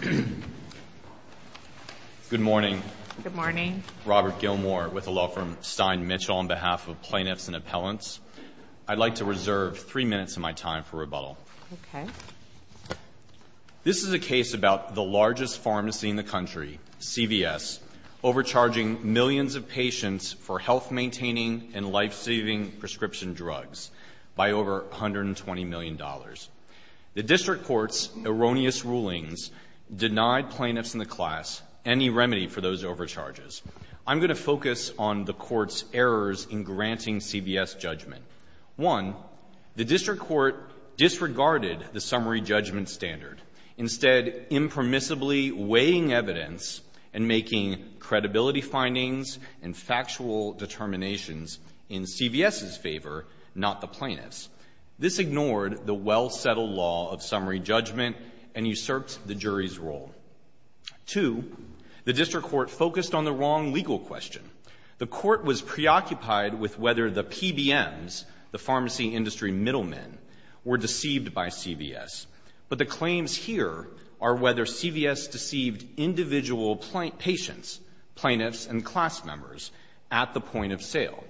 Good morning. Good morning. I'm Robert Gilmour with the law firm Stein-Mitchell on behalf of plaintiffs and appellants. I'd like to reserve three minutes of my time for rebuttal. Okay. This is a case about the largest pharmacy in the country, CVS, overcharging millions of patients for health-maintaining and life-saving prescription drugs by over $120 million. The district court's erroneous rulings denied plaintiffs in the class any remedy for those overcharges. I'm going to focus on the court's errors in granting CVS judgment. One, the district court disregarded the summary judgment standard, instead impermissibly weighing evidence and making credibility findings and factual determinations in CVS's favor, not the plaintiff's. This ignored the well-settled law of summary judgment and usurped the jury's role. Two, the district court focused on the wrong legal question. The court was preoccupied with whether the PBMs, the pharmacy industry middlemen, were deceived by CVS. But the claims here are whether CVS deceived individual patients, plaintiffs, and class members at the point of sale.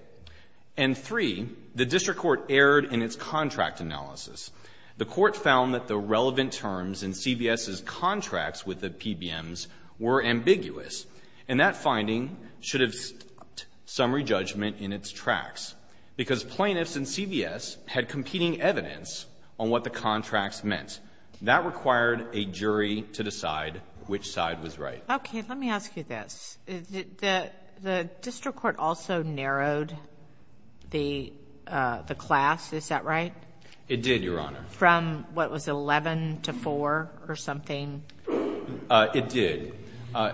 And three, the district court erred in its contract analysis. The court found that the relevant terms in CVS's contracts with the PBMs were ambiguous, and that finding should have stopped summary judgment in its tracks, because plaintiffs in CVS had competing evidence on what the contracts meant. That required a jury to decide which side was right. Okay. Let me ask you this. The district court also narrowed the class, is that right? It did, Your Honor. From what was 11 to 4 or something? It did.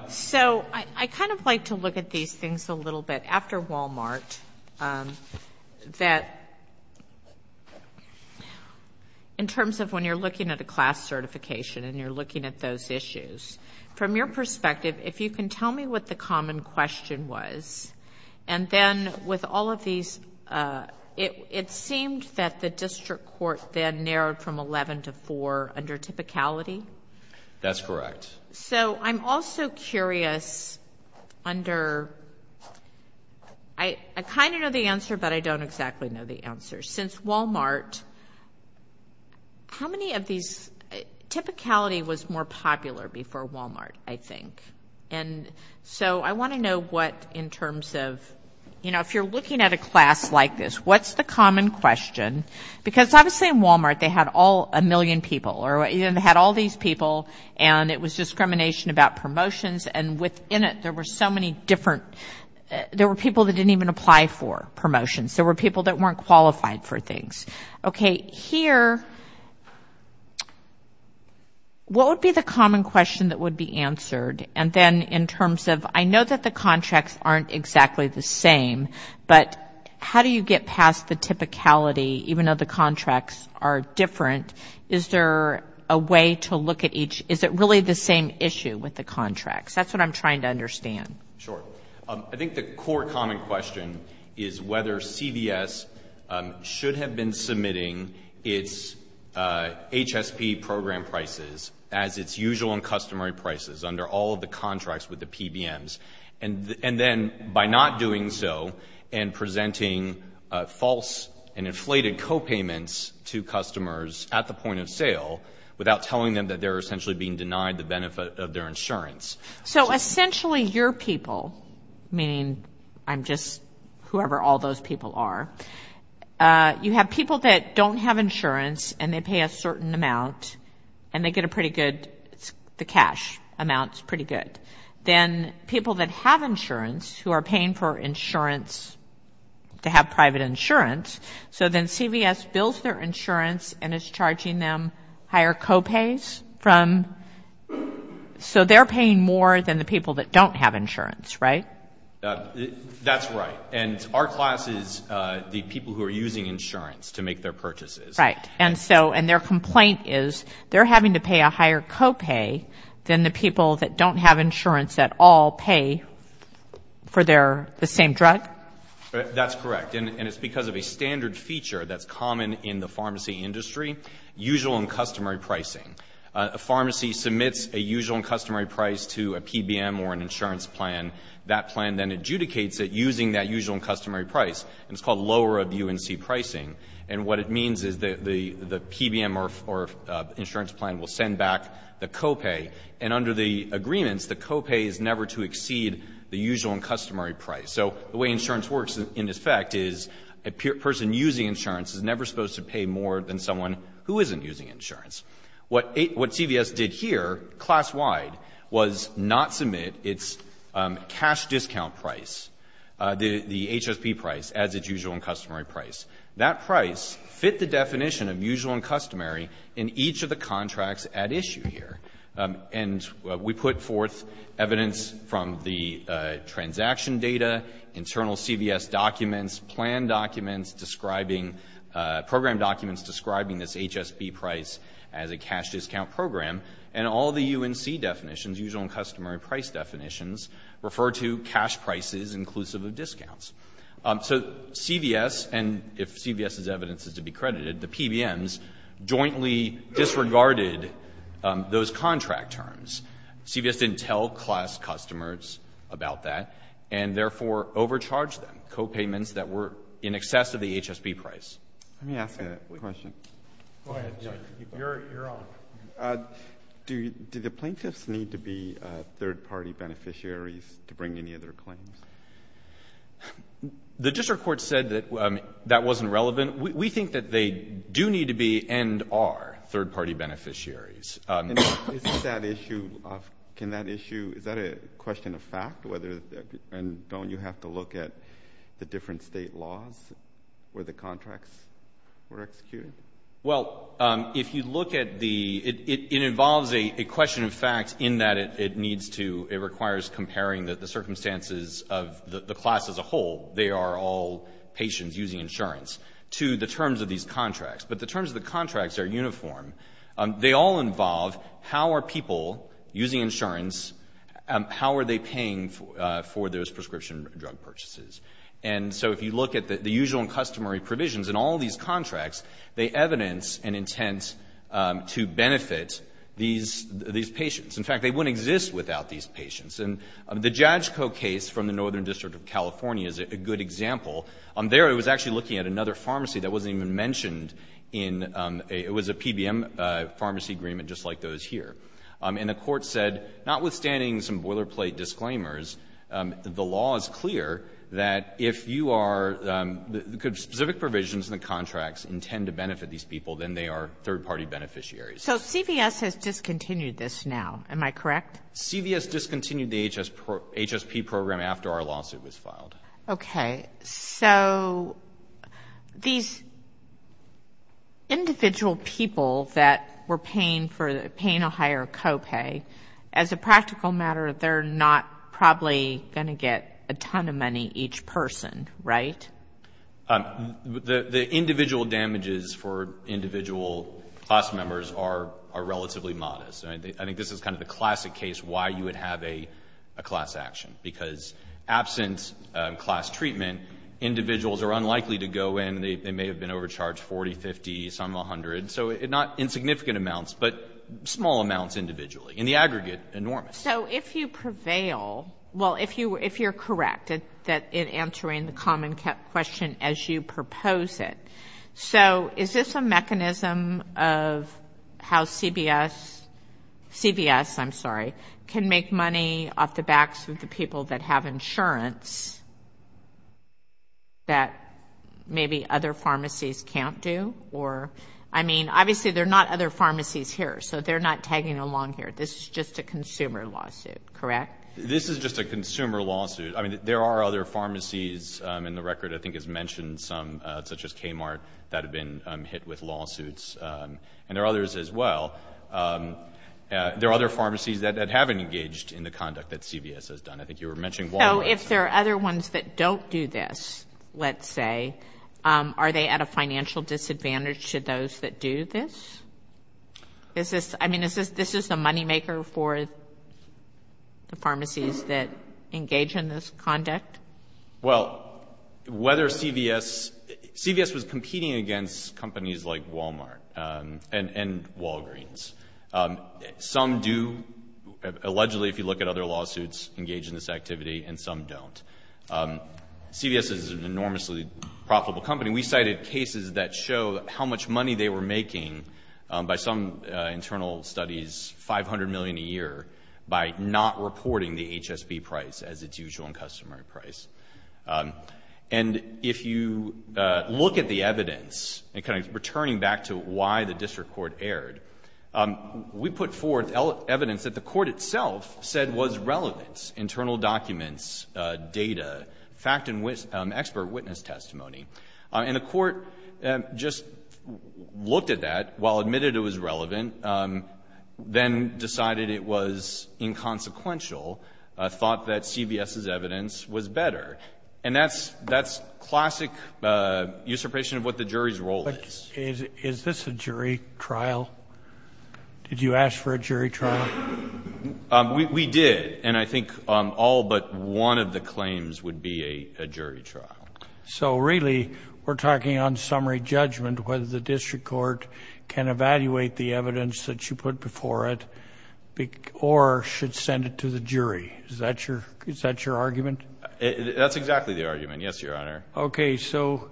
So I kind of like to look at these things a little bit. After Walmart, that in terms of when you're looking at a class certification and you're looking at those issues, from your perspective, if you can tell me what the common question was. And then with all of these, it seemed that the district court then narrowed from 11 to 4 under typicality? That's correct. So I'm also curious under... I kind of know the answer, but I don't exactly know the answer. Since Walmart, how many of these... Typicality was more popular before Walmart, I think. And so I want to know what in terms of... You know, if you're looking at a class like this, what's the common question? Because obviously in Walmart they had a million people, or they had all these people, and it was discrimination about promotions, and within it there were so many different... There were people that didn't even apply for promotions. There were people that weren't qualified for things. Okay, here... What would be the common question that would be answered? And then in terms of... I know that the contracts aren't exactly the same, but how do you get past the typicality, even though the contracts are different? Is there a way to look at each... Is it really the same issue with the contracts? That's what I'm trying to understand. Sure. I think the core common question is whether CVS should have been submitting its HSP program prices as its usual and customary prices under all of the contracts with the PBMs, and then by not doing so and presenting false and inflated copayments to customers at the point of sale without telling them that they're essentially being denied the benefit of their insurance. So essentially your people, meaning I'm just whoever all those people are, you have people that don't have insurance and they pay a certain amount and they get a pretty good... the cash amount is pretty good. Then people that have insurance who are paying for insurance to have private insurance, so then CVS bills their insurance and is charging them higher copays from... So they're paying more than the people that don't have insurance, right? That's right. And our class is the people who are using insurance to make their purchases. Right. And so their complaint is they're having to pay a higher copay than the people that don't have insurance at all pay for the same drug? That's correct. And it's because of a standard feature that's common in the pharmacy industry, usual and customary pricing. A pharmacy submits a usual and customary price to a PBM or an insurance plan. That plan then adjudicates it using that usual and customary price, and it's called lower of UNC pricing. And what it means is the PBM or insurance plan will send back the copay, and under the agreements the copay is never to exceed the usual and customary price. So the way insurance works in effect is a person using insurance is never supposed to pay more than someone who isn't using insurance. What CVS did here, class-wide, was not submit its cash discount price, the HSP price, as its usual and customary price. That price fit the definition of usual and customary in each of the contracts at issue here. And we put forth evidence from the transaction data, internal CVS documents, plan documents describing, program documents describing this HSP price as a cash discount program, and all the UNC definitions, usual and customary price definitions, refer to cash prices inclusive of discounts. So CVS, and if CVS's evidence is to be credited, the PBMs jointly disregarded those contract terms. CVS didn't tell class customers about that, and therefore overcharged them. So CVS didn't make copayments that were in excess of the HSP price. Let me ask a question. Go ahead, Judge. You're on. Do the plaintiffs need to be third-party beneficiaries to bring any of their claims? The district court said that that wasn't relevant. We think that they do need to be and are third-party beneficiaries. Can that issue, is that a question of fact, and don't you have to look at the different state laws where the contracts were executed? Well, if you look at the, it involves a question of fact in that it needs to, it requires comparing the circumstances of the class as a whole, they are all patients using insurance, to the terms of these contracts. But the terms of the contracts are uniform. They all involve how are people using insurance, how are they paying for those prescription drug purchases. And so if you look at the usual and customary provisions in all these contracts, they evidence an intent to benefit these patients. In fact, they wouldn't exist without these patients. And the JADCO case from the Northern District of California is a good example. There it was actually looking at another pharmacy that wasn't even mentioned in, it was a PBM pharmacy agreement just like those here. And the court said, notwithstanding some boilerplate disclaimers, the law is clear that if you are, could specific provisions in the contracts intend to benefit these people, then they are third-party beneficiaries. So CVS has discontinued this now, am I correct? Okay. So these individual people that were paying a higher copay, as a practical matter they're not probably going to get a ton of money each person, right? The individual damages for individual class members are relatively modest. I think this is kind of the classic case why you would have a class action. Because absent class treatment, individuals are unlikely to go in. They may have been overcharged 40, 50, some 100. So not insignificant amounts, but small amounts individually. In the aggregate, enormous. So if you prevail, well, if you're correct in answering the common question as you propose it, So is this a mechanism of how CVS can make money off the backs of the people that have insurance that maybe other pharmacies can't do? I mean, obviously there are not other pharmacies here, so they're not tagging along here. This is just a consumer lawsuit, correct? This is just a consumer lawsuit. I mean, there are other pharmacies, and the record I think has mentioned some, such as Kmart that have been hit with lawsuits, and there are others as well. There are other pharmacies that haven't engaged in the conduct that CVS has done. I think you were mentioning Walmart. So if there are other ones that don't do this, let's say, are they at a financial disadvantage to those that do this? I mean, is this a moneymaker for the pharmacies that engage in this conduct? Well, whether CVS was competing against companies like Walmart and Walgreens. Some do, allegedly, if you look at other lawsuits, engage in this activity, and some don't. CVS is an enormously profitable company. I mean, we cited cases that show how much money they were making by some internal studies, $500 million a year, by not reporting the HSB price as its usual and customary price. And if you look at the evidence, and kind of returning back to why the district court erred, we put forth evidence that the court itself said was relevant, internal documents, data, fact and expert witness testimony. And the court just looked at that, while admitted it was relevant, then decided it was inconsequential, thought that CVS's evidence was better. And that's classic usurpation of what the jury's role is. But is this a jury trial? Did you ask for a jury trial? We did. And I think all but one of the claims would be a jury trial. So really, we're talking on summary judgment, whether the district court can evaluate the evidence that you put before it or should send it to the jury. Is that your argument? That's exactly the argument, yes, Your Honor. Okay, so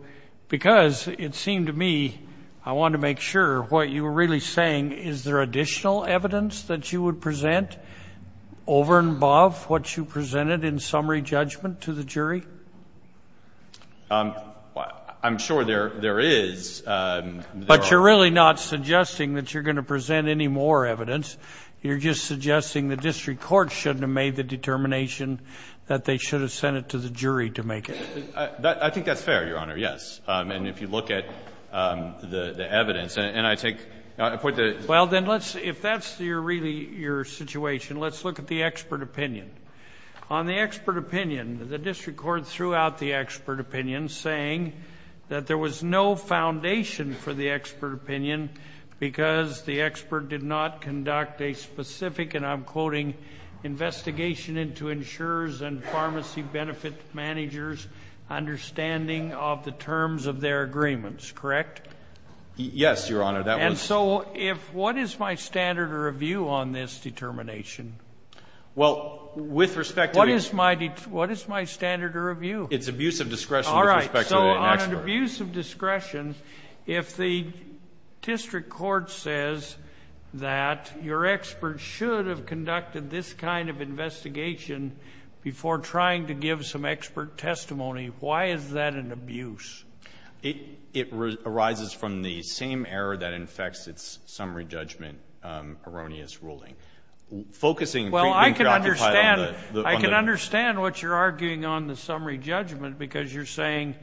because it seemed to me I wanted to make sure what you were really saying, is there additional evidence that you would present over and above what you presented in summary judgment to the jury? I'm sure there is. But you're really not suggesting that you're going to present any more evidence. You're just suggesting the district court shouldn't have made the determination that they should have sent it to the jury to make it. I think that's fair, Your Honor, yes. And if you look at the evidence, and I take the point that Well, then, if that's really your situation, let's look at the expert opinion. On the expert opinion, the district court threw out the expert opinion, saying that there was no foundation for the expert opinion because the expert did not conduct a specific, and I'm quoting, investigation into insurers' and pharmacy benefit managers' understanding of the terms of their agreements, correct? Yes, Your Honor, that was And so what is my standard of review on this determination? Well, with respect to What is my standard of review? It's abuse of discretion with respect to the expert. All right, so on abuse of discretion, if the district court says that your expert should have conducted this kind of investigation before trying to give some expert testimony, why is that an abuse? It arises from the same error that infects its summary judgment erroneous ruling. Focusing Well, I can understand on the I can understand what you're arguing on the summary judgment because you're saying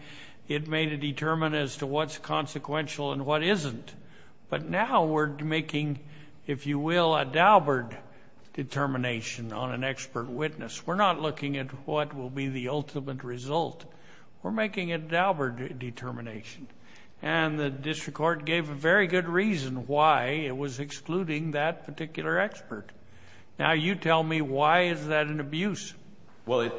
it made a determinant as to what's consequential and what isn't. But now we're making, if you will, a Daubert determination on an expert witness. We're not looking at what will be the ultimate result. We're making a Daubert determination. And the district court gave a very good reason why it was excluding that particular expert. Now you tell me, why is that an abuse? Well,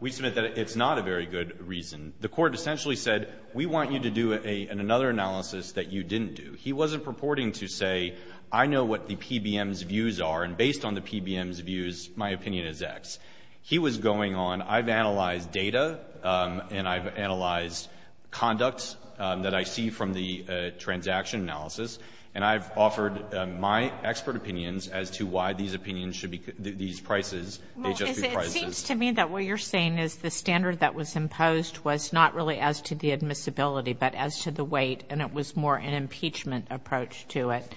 we submit that it's not a very good reason. The court essentially said, we want you to do another analysis that you didn't do. He wasn't purporting to say, I know what the PBM's views are, and based on the PBM's views, my opinion is X. He was going on, I've analyzed data, and I've analyzed conduct that I see from the transaction analysis, and I've offered my expert opinions as to why these opinions should be, these prices, HSB prices. Well, it seems to me that what you're saying is the standard that was imposed was not really as to the admissibility, but as to the weight, and it was more an impeachment approach to it.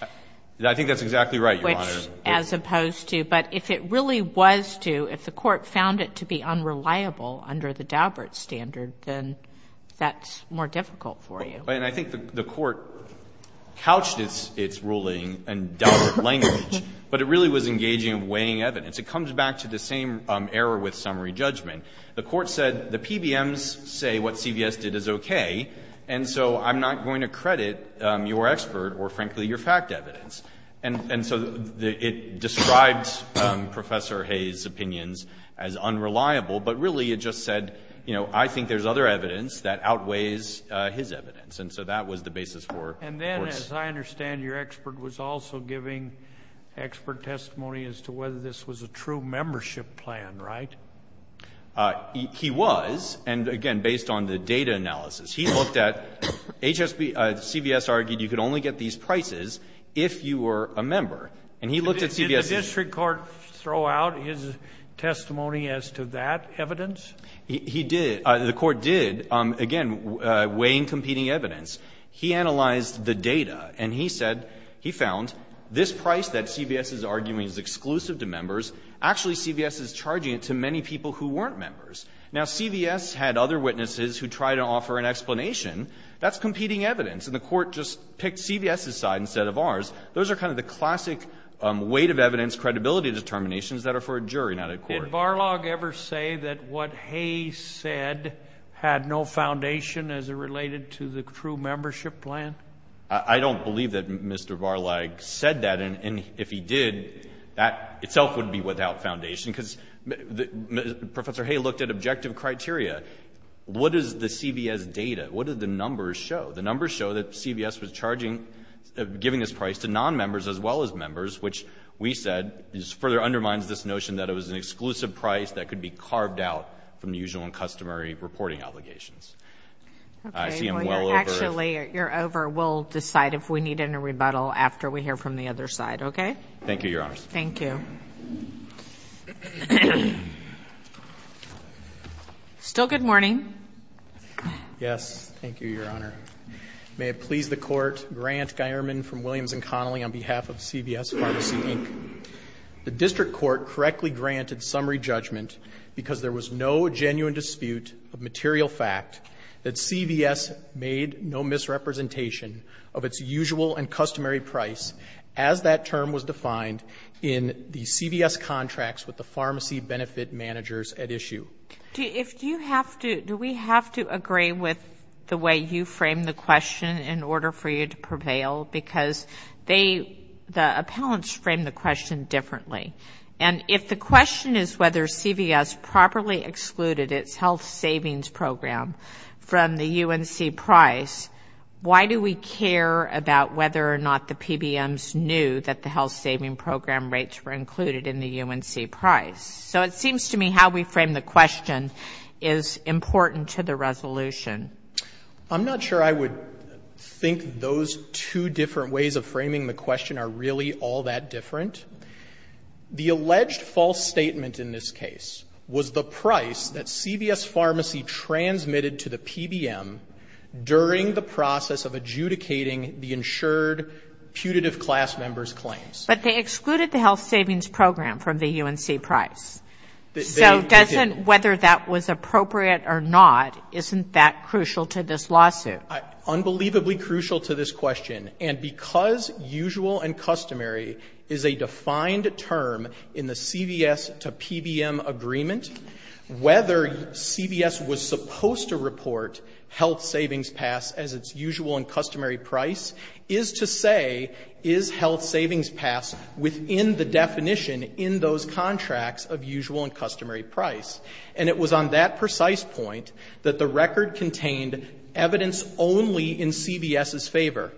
I think that's exactly right, Your Honor. Which, as opposed to, but if it really was to, if the court found it to be unreliable under the Daubert standard, then that's more difficult for you. And I think the court couched its ruling in Daubert language, but it really was engaging in weighing evidence. It comes back to the same error with summary judgment. The court said, the PBMs say what CVS did is okay, and so I'm not going to credit your expert or, frankly, your fact evidence. And so it describes Professor Hayes' opinions as unreliable, but really it just said, you know, I think there's other evidence that outweighs his evidence, and so that was the basis for course. And then, as I understand, your expert was also giving expert testimony as to whether this was a true membership plan, right? He was, and again, based on the data analysis. He looked at, CVS argued you could only get these prices if you were a member, and he looked at CVS. Did the district court throw out his testimony as to that evidence? He did. The court did. Again, weighing competing evidence. He analyzed the data, and he said he found this price that CVS is arguing is exclusive to members. Actually, CVS is charging it to many people who weren't members. Now, CVS had other witnesses who tried to offer an explanation. That's competing evidence, and the court just picked CVS's side instead of ours. Those are kind of the classic weight of evidence credibility determinations that are for a jury, not a court. Did Varlag ever say that what Hay said had no foundation as it related to the true membership plan? I don't believe that Mr. Varlag said that, and if he did, that itself would be without foundation, because Professor Hay looked at objective criteria. What does the CVS data, what do the numbers show? The numbers show that CVS was charging, giving this price to nonmembers as well as members, which we said further undermines this notion that it was an exclusive price that could be carved out from the usual and customary reporting obligations. Okay. I see I'm well over. Actually, you're over. We'll decide if we need any rebuttal after we hear from the other side, okay? Thank you, Your Honors. Thank you. Still good morning. Yes. Thank you, Your Honor. May it please the Court, Grant Geierman from Williams & Connolly on behalf of CVS Pharmacy, Inc. The district court correctly granted summary judgment because there was no genuine dispute of material fact that CVS made no misrepresentation of its usual and customary price as that term was defined in the CVS contracts with the pharmacy benefit managers at issue. Do we have to agree with the way you framed the question in order for you to prevail? Because the appellants framed the question differently. And if the question is whether CVS properly excluded its health savings program from the UNC price, why do we care about whether or not the PBMs knew that the health saving program rates were included in the UNC price? So it seems to me how we frame the question is important to the resolution. I'm not sure I would think those two different ways of framing the question are really all that different. The alleged false statement in this case was the price that CVS Pharmacy transmitted to the PBM during the process of adjudicating the insured putative class member's claims. But they excluded the health savings program from the UNC price. So doesn't whether that was appropriate or not, isn't that crucial to this lawsuit? Unbelievably crucial to this question. And because usual and customary is a defined term in the CVS to PBM agreement, whether CVS was supposed to report health savings pass as its usual and customary price is to say is health savings pass within the definition in those contracts of usual and customary price. And it was on that precise point that the record contained evidence only in CVS's favor.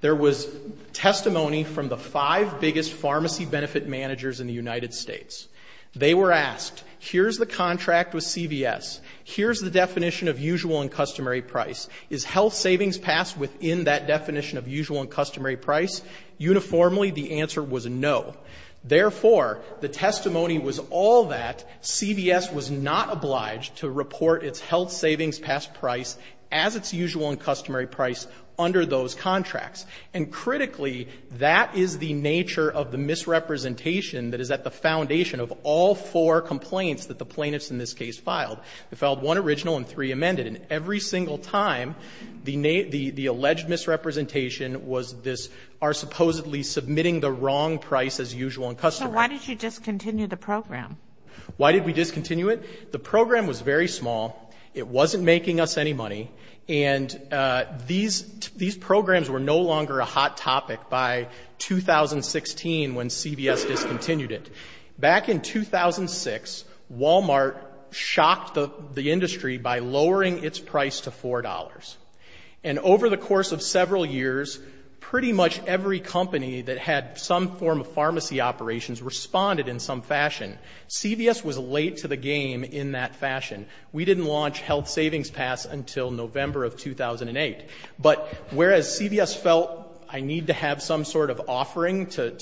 There was testimony from the five biggest pharmacy benefit managers in the United States. They were asked, here's the contract with CVS. Here's the definition of usual and customary price. Is health savings pass within that definition of usual and customary price? Uniformly, the answer was no. Therefore, the testimony was all that CVS was not obliged to report its health savings pass price as its usual and customary price under those contracts. And critically, that is the nature of the misrepresentation that is at the foundation of all four complaints that the plaintiffs in this case filed. They filed one original and three amended. And every single time, the alleged misrepresentation was this, are supposedly submitting the wrong price as usual and customary. So why did you discontinue the program? Why did we discontinue it? The program was very small. It wasn't making us any money. And these programs were no longer a hot topic by 2016 when CVS discontinued it. Back in 2006, Walmart shocked the industry by lowering its price to $4. And over the course of several years, pretty much every company that had some form of pharmacy operations responded in some fashion. CVS was late to the game in that fashion. We didn't launch health savings pass until November of 2008. But whereas CVS felt I need to have some sort of offering to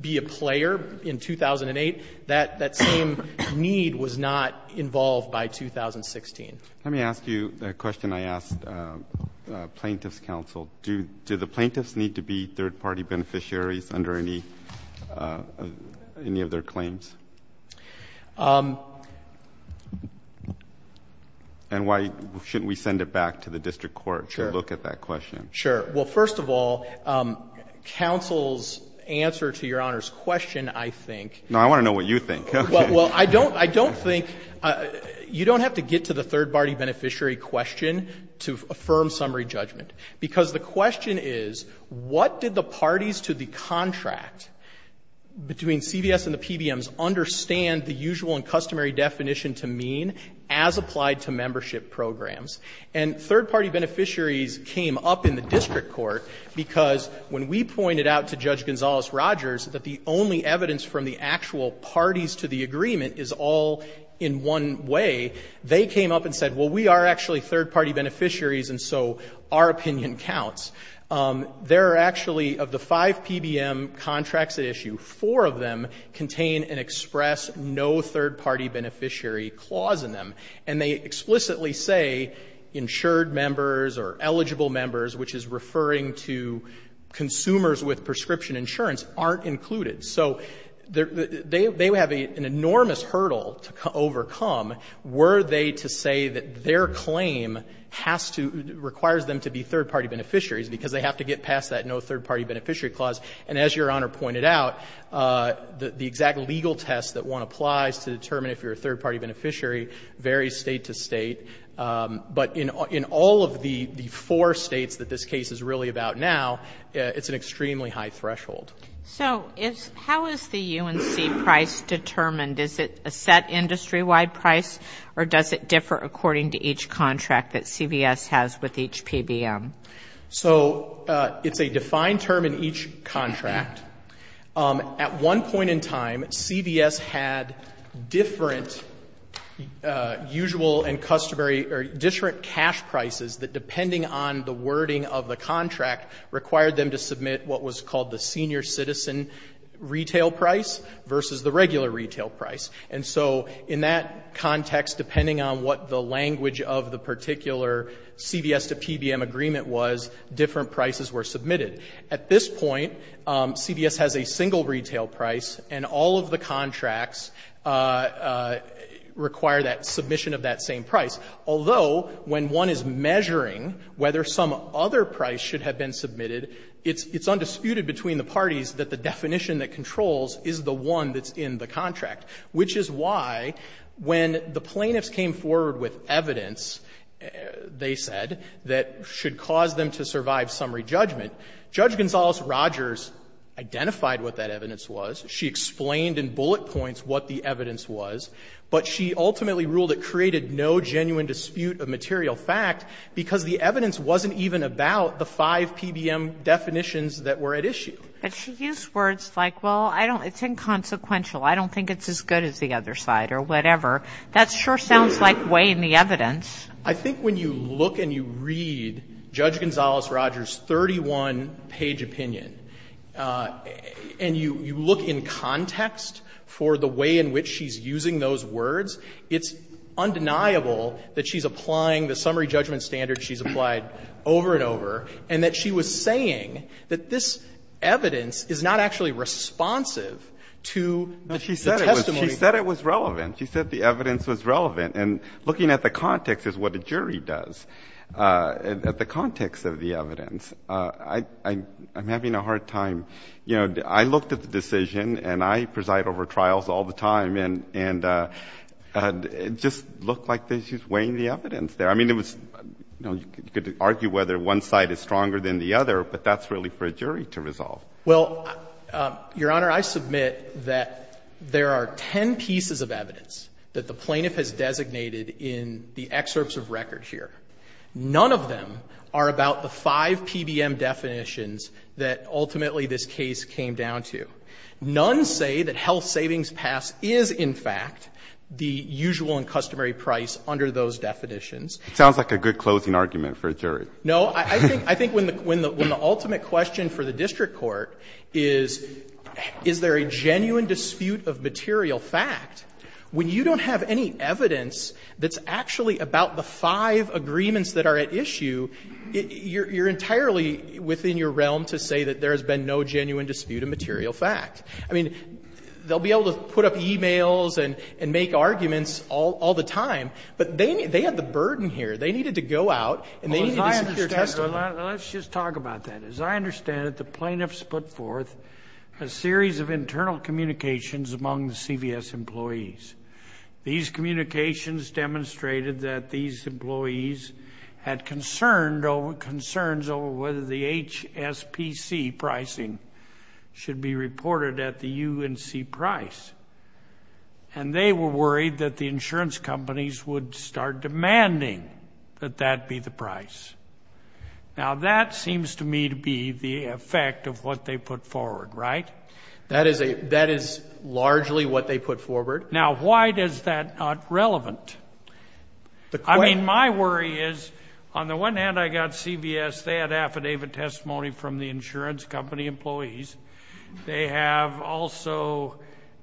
be a player in 2008, that same need was not involved by 2016. Let me ask you the question I asked plaintiff's counsel. Do the plaintiffs need to be third-party beneficiaries under any of their claims? And why shouldn't we send it back to the district court? Sure. To look at that question. Sure. Well, first of all, counsel's answer to Your Honor's question, I think. No, I want to know what you think. Okay. Well, I don't think you don't have to get to the third-party beneficiary question to affirm summary judgment, because the question is what did the parties to the contract between CVS and the PBMs understand the usual and customary definition to mean as applied to membership programs? And third-party beneficiaries came up in the district court because when we pointed out to Judge Gonzales-Rogers that the only evidence from the actual parties to the agreement is all in one way, they came up and said, well, we are actually third-party beneficiaries, and so our opinion counts. There are actually, of the five PBM contracts at issue, four of them contain and express no third-party beneficiary clause in them. And they explicitly say insured members or eligible members, which is referring to consumers with prescription insurance, aren't included. So they have an enormous hurdle to overcome were they to say that their claim has to, requires them to be third-party beneficiaries because they have to get past that no third-party beneficiary clause. And as Your Honor pointed out, the exact legal test that one applies to determine if you're a third-party beneficiary varies state to state. But in all of the four states that this case is really about now, it's an extremely high threshold. So how is the UNC price determined? Is it a set industry-wide price or does it differ according to each contract that CVS has with each PBM? So it's a defined term in each contract. At one point in time, CVS had different usual and customary or different cash prices that, depending on the wording of the contract, required them to submit what was called the senior citizen retail price versus the regular retail price. And so in that context, depending on what the language of the particular CVS to PBM agreement was, different prices were submitted. At this point, CVS has a single retail price and all of the contracts require that submission of that same price. Although, when one is measuring whether some other price should have been submitted, it's undisputed between the parties that the definition that controls is the one that's in the contract, which is why when the plaintiffs came forward with evidence, they said, that should cause them to survive summary judgment. Judge Gonzales-Rogers identified what that evidence was. She explained in bullet points what the evidence was. But she ultimately ruled it created no genuine dispute of material fact because the evidence wasn't even about the five PBM definitions that were at issue. But she used words like, well, I don't, it's inconsequential. I don't think it's as good as the other side or whatever. That sure sounds like way in the evidence. I think when you look and you read Judge Gonzales-Rogers' 31-page opinion and you look in context for the way in which she's using those words, it's undeniable that she's applying the summary judgment standards she's applied over and over, and that she was saying that this evidence is not actually responsive to the testimony. She said it was relevant. She said the evidence was relevant. And looking at the context is what a jury does, at the context of the evidence. I'm having a hard time. I looked at the decision, and I preside over trials all the time, and it just looked like she's weighing the evidence there. I mean, you could argue whether one side is stronger than the other, but that's really for a jury to resolve. Well, Your Honor, I submit that there are ten pieces of evidence that the plaintiff has designated in the excerpts of record here. None of them are about the five PBM definitions that ultimately this case came down to. None say that health savings pass is, in fact, the usual and customary price under those definitions. It sounds like a good closing argument for a jury. No. I think when the ultimate question for the district court is, is there a genuine dispute of material fact, when you don't have any evidence that's actually about the five agreements that are at issue, you're entirely within your realm to say that there has been no genuine dispute of material fact. I mean, they'll be able to put up e-mails and make arguments all the time, but they had the burden here. They needed to go out and they needed to secure testimony. Let's just talk about that. As I understand it, the plaintiffs put forth a series of internal communications among the CVS employees. These communications demonstrated that these employees had concerns over whether the HSPC pricing should be reported at the UNC price, and they were worried that the insurance companies would start demanding that that be the price. Now, that seems to me to be the effect of what they put forward, right? That is largely what they put forward. Now, why is that not relevant? I mean, my worry is, on the one hand, I got CVS. They had affidavit testimony from the insurance company employees. They have also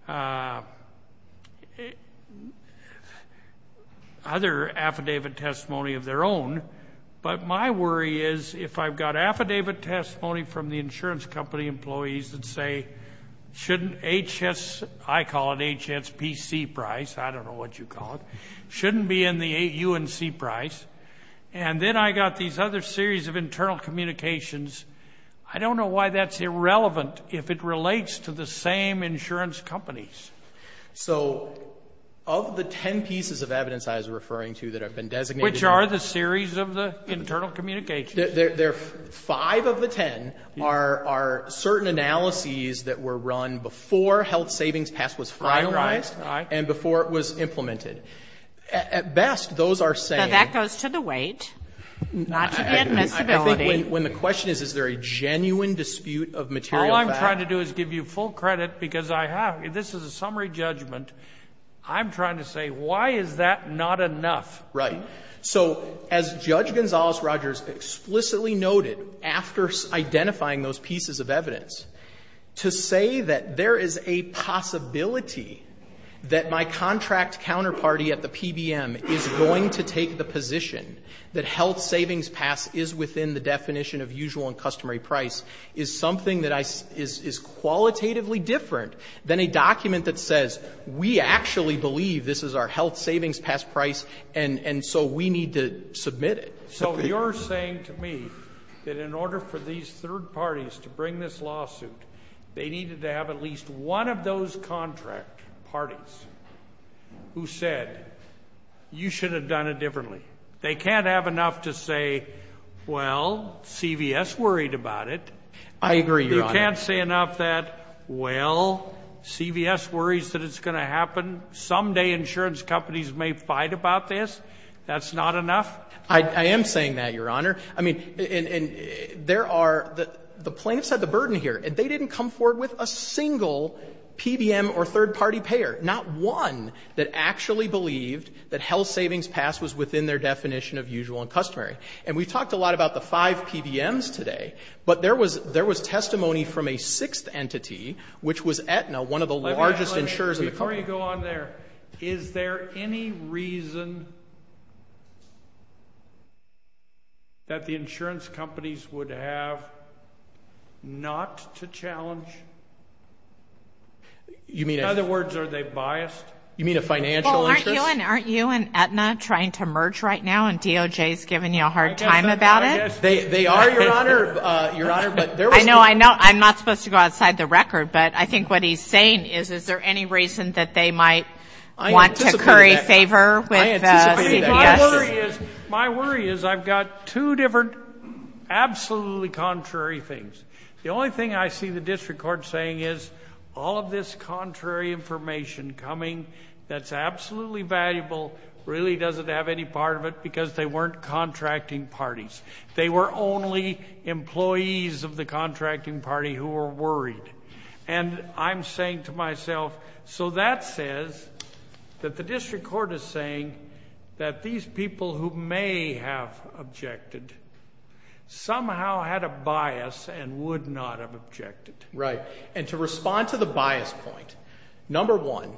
other affidavit testimony of their own, but my worry is if I've got affidavit testimony from the insurance company employees that say, shouldn't HS, I call it HSPC price, I don't know what you call it, shouldn't be in the UNC price. And then I got these other series of internal communications. I don't know why that's irrelevant if it relates to the same insurance companies. So, of the ten pieces of evidence I was referring to that have been designated Which are the series of the internal communications. Five of the ten are certain analyses that were run before Health Savings Pass was finalized and before it was implemented. At best, those are saying Now, that goes to the weight, not to the admissibility. I think when the question is, is there a genuine dispute of material facts? All I'm trying to do is give you full credit because I have, this is a summary judgment. I'm trying to say, why is that not enough? Right. So, as Judge Gonzales-Rogers explicitly noted after identifying those pieces of evidence, to say that there is a possibility that my contract counterparty at the PBM is going to take the position that Health Savings Pass is within the definition of usual and customary price is something that is qualitatively different than a document that says we actually believe this is our Health Savings Pass price and so we need to submit it. So, you're saying to me that in order for these third parties to bring this lawsuit, they needed to have at least one of those contract parties who said, you should have done it differently. They can't have enough to say, well, CVS worried about it. I agree, Your Honor. You can't say enough that, well, CVS worries that it's going to happen. Someday insurance companies may fight about this. That's not enough? I am saying that, Your Honor. I mean, there are, the plaintiffs have the burden here. They didn't come forward with a single PBM or third party payer. Not one that actually believed that Health Savings Pass was within their definition of usual and customary. And we talked a lot about the five PBMs today, but there was testimony from a sixth entity, which was Aetna, one of the largest insurers in the country. Before you go on there, is there any reason that the insurance companies would have not to challenge? In other words, are they biased? You mean a financial interest? Well, aren't you and Aetna trying to merge right now and DOJ is giving you a hard time about it? They are, Your Honor. I know. I'm not supposed to go outside the record. But I think what he's saying is, is there any reason that they might want to curry favor with CVS? My worry is I've got two different absolutely contrary things. The only thing I see the district court saying is all of this contrary information coming that's absolutely valuable, really doesn't have any part of it because they weren't contracting parties. They were only employees of the contracting party who were worried. And I'm saying to myself, so that says that the district court is saying that these people who may have objected somehow had a bias and would not have objected. Right. And to respond to the bias point, number one,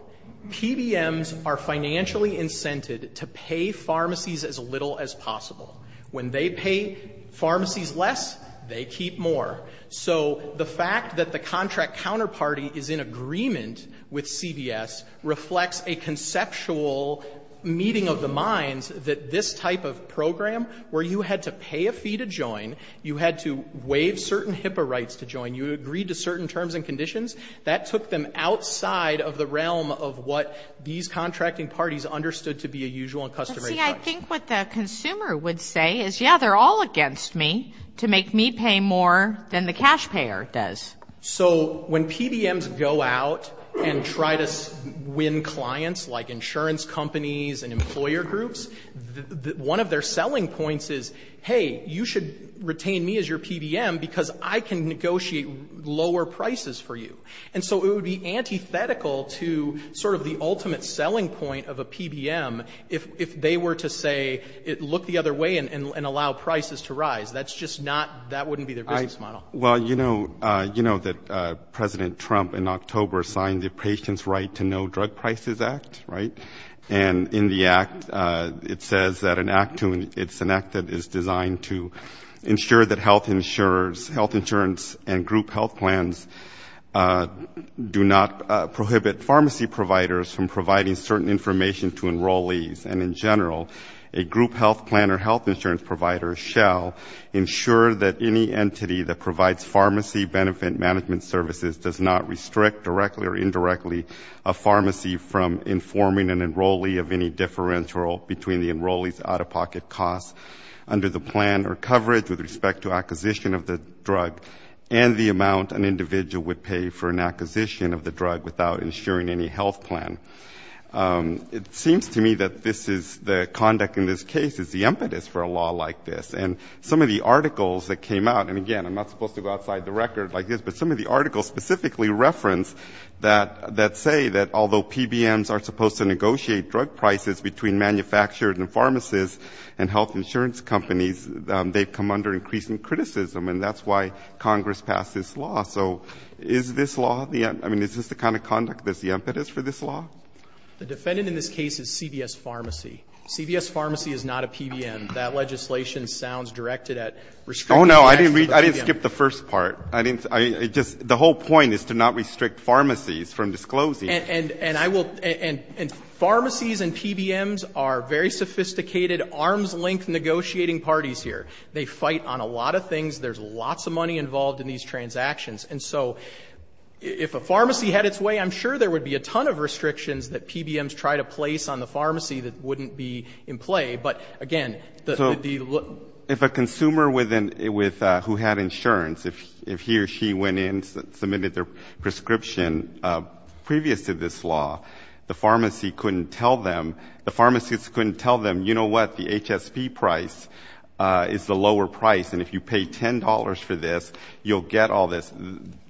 PBMs are financially incented to pay pharmacies as little as possible. When they pay pharmacies less, they keep more. So the fact that the contract counterparty is in agreement with CVS reflects a conceptual meeting of the minds that this type of program where you had to pay a fee to join, you had to waive certain HIPAA rights to join, you agreed to certain terms and conditions, that took them outside of the realm of what these contracting parties understood to be a usual and customary choice. But, see, I think what the consumer would say is, yeah, they're all against me to make me pay more than the cash payer does. So when PBMs go out and try to win clients like insurance companies and employer groups, one of their selling points is, hey, you should retain me as your PBM because I can negotiate lower prices for you. And so it would be antithetical to sort of the ultimate selling point of a PBM if they were to say, look the other way and allow prices to rise. That's just not, that wouldn't be their business model. Well, you know that President Trump in October signed the Patients' Right to Know Drug Prices Act, right? And in the act it says that an act, it's an act that is designed to ensure that health insurers, health insurance and group health plans do not prohibit pharmacy providers from providing certain information to enrollees. And in general, a group health plan or health insurance provider shall ensure that any entity that provides pharmacy benefit management services does not restrict directly or indirectly a pharmacy from informing an enrollee of any differential between the enrollee's out-of-pocket costs under the plan or coverage with respect to acquisition of the drug and the amount an individual would pay for an acquisition of the drug without insuring any health plan. It seems to me that this is, the conduct in this case is the impetus for a law like this. And some of the articles that came out, and again, I'm not supposed to go outside the record like this, but some of the articles specifically reference that say that although PBMs are supposed to negotiate drug prices between manufacturers and pharmacists and health insurance companies, they've come under increasing criticism. And that's why Congress passed this law. So is this law the, I mean, is this the kind of conduct that's the impetus for this law? The defendant in this case is CVS Pharmacy. CVS Pharmacy is not a PBM. That legislation sounds directed at restricting access to the PBM. Oh, no, I didn't skip the first part. I didn't, I just, the whole point is to not restrict pharmacies from disclosing. And I will, and pharmacies and PBMs are very sophisticated, arm's length negotiating parties here. They fight on a lot of things. There's lots of money involved in these transactions. And so if a pharmacy had its way, I'm sure there would be a ton of restrictions that PBMs try to place on the pharmacy that wouldn't be in play. But, again, the. So if a consumer who had insurance, if he or she went in, submitted their prescription previous to this law, the pharmacy couldn't tell them, the pharmacists couldn't tell them, you know what, the HSP price is the lower price, and if you pay $10 for this, you'll get all this.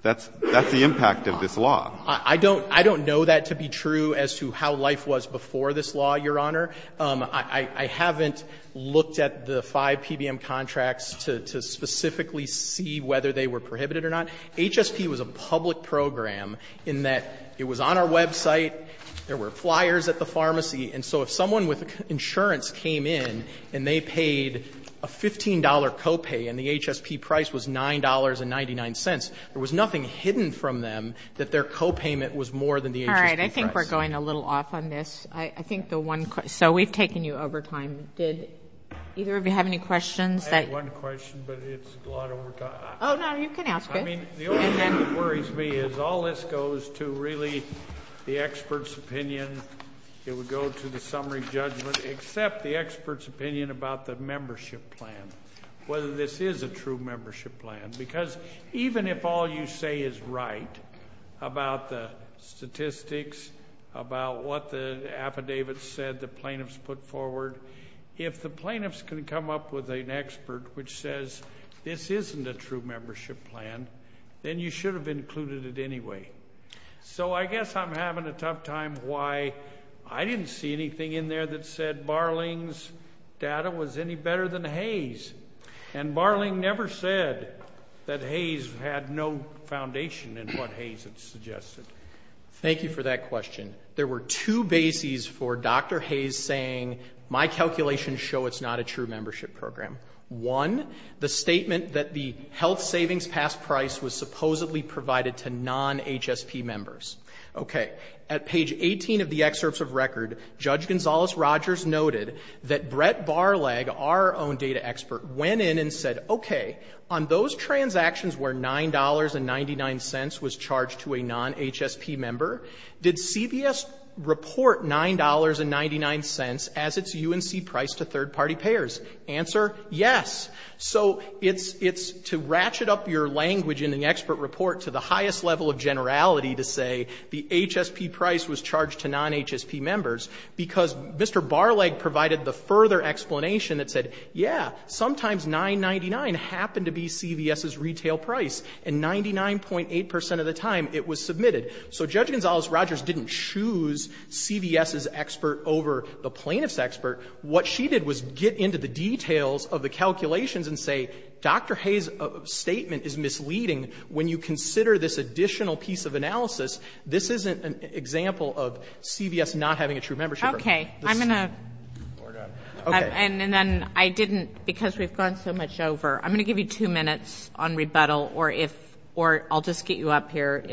That's the impact of this law. I don't know that to be true as to how life was before this law, Your Honor. I haven't looked at the five PBM contracts to specifically see whether they were prohibited or not. HSP was a public program in that it was on our website. There were flyers at the pharmacy. And so if someone with insurance came in and they paid a $15 copay and the HSP price was $9.99, there was nothing hidden from them that their copayment was more than the HSP price. All right. I think we're going a little off on this. I think the one. So we've taken you over time. Did either of you have any questions? I had one question, but it's a lot over time. Oh, no, you can ask it. I mean, the only thing that worries me is all this goes to really the expert's opinion. It would go to the summary judgment except the expert's opinion about the membership plan, whether this is a true membership plan. Because even if all you say is right about the statistics, about what the affidavits said the plaintiffs put forward, if the plaintiffs can come up with an expert which says this isn't a true membership plan, then you should have included it anyway. So I guess I'm having a tough time why I didn't see anything in there that said Barling's data was any better than Hayes. And Barling never said that Hayes had no foundation in what Hayes had suggested. Thank you for that question. There were two bases for Dr. Hayes saying my calculations show it's not a true membership program. One, the statement that the health savings past price was supposedly provided to non-HSP members. Okay. At page 18 of the excerpts of record, Judge Gonzales-Rogers noted that Brett Barlag, our own data expert, went in and said, okay, on those transactions where $9.99 was charged to a non-HSP member, did CVS report $9.99 as its UNC price to third-party payers? Answer, yes. So it's to ratchet up your language in the expert report to the highest level of generality to say the HSP price was charged to non-HSP members, because Mr. Barlag provided the further explanation that said, yeah, sometimes $9.99 happened to be CVS's retail price, and 99.8 percent of the time it was submitted. So Judge Gonzales-Rogers didn't choose CVS's expert over the plaintiff's expert. What she did was get into the details of the calculations and say, Dr. Hayes's statement is misleading when you consider this additional piece of analysis. This isn't an example of CVS not having a true membership program. Okay. I'm going to. Okay. And then I didn't, because we've gone so much over. I'm going to give you two minutes on rebuttal, or if or I'll just get you up here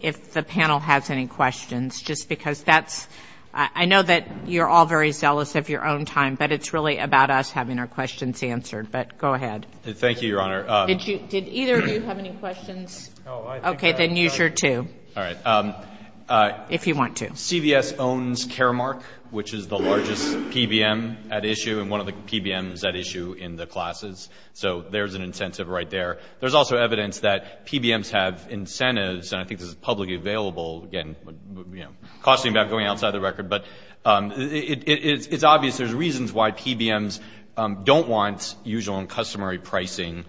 if the panel has any questions, just because that's — I know that you're all very zealous of your own time, but it's really about us having our questions answered. But go ahead. Thank you, Your Honor. Did either of you have any questions? No. Okay. Then use your two. All right. If you want to. CVS owns Caremark, which is the largest PBM at issue, and one of the PBMs at issue in the classes. So there's an incentive right there. There's also evidence that PBMs have incentives, and I think this is publicly available, again, you know, cautioning about going outside the record. But it's obvious there's reasons why PBMs don't want usual and customary pricing,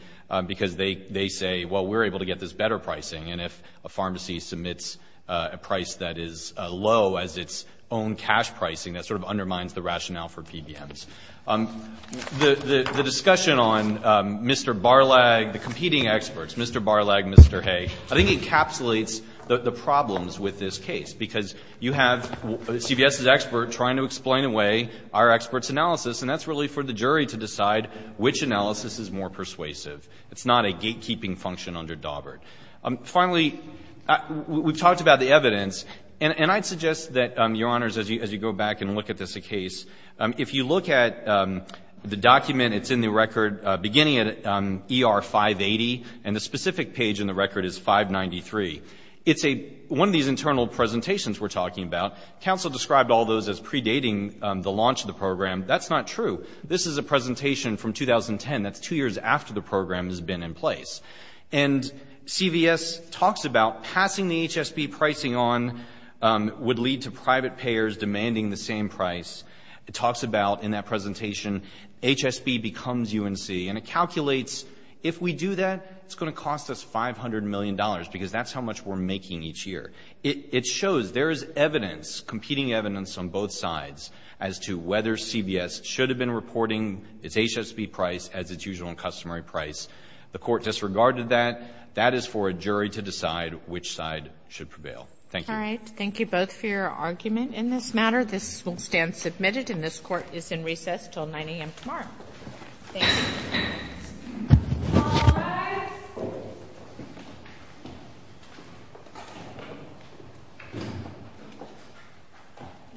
because they say, well, we're able to get this better pricing. And if a pharmacy submits a price that is low as its own cash pricing, that sort of undermines the rationale for PBMs. The discussion on Mr. Barlag, the competing experts, Mr. Barlag, Mr. Hay, I think encapsulates the problems with this case, because you have CVS's expert trying to explain away our expert's analysis, and that's really for the jury to decide which analysis is more persuasive. It's not a gatekeeping function under Dawbert. Finally, we've talked about the evidence, and I'd suggest that, Your Honors, as you go back and look at this case, if you look at the document, it's in the record beginning at ER 580, and the specific page in the record is 593. It's one of these internal presentations we're talking about. Counsel described all those as predating the launch of the program. That's not true. This is a presentation from 2010. That's two years after the program has been in place. And CVS talks about passing the HSB pricing on would lead to private payers demanding the same price. It talks about, in that presentation, HSB becomes UNC, and it calculates if we do that, it's going to cost us $500 million, because that's how much we're making each year. It shows there is evidence, competing evidence, on both sides as to whether CVS should have been reporting its HSB price as its usual and customary price. The Court disregarded that. That is for a jury to decide which side should prevail. Thank you. All right. Thank you both for your argument in this matter. This will stand submitted, and this Court is in recess until 9 a.m. tomorrow. Thank you. All rise.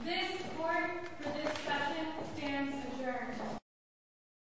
This Court for this session stands adjourned.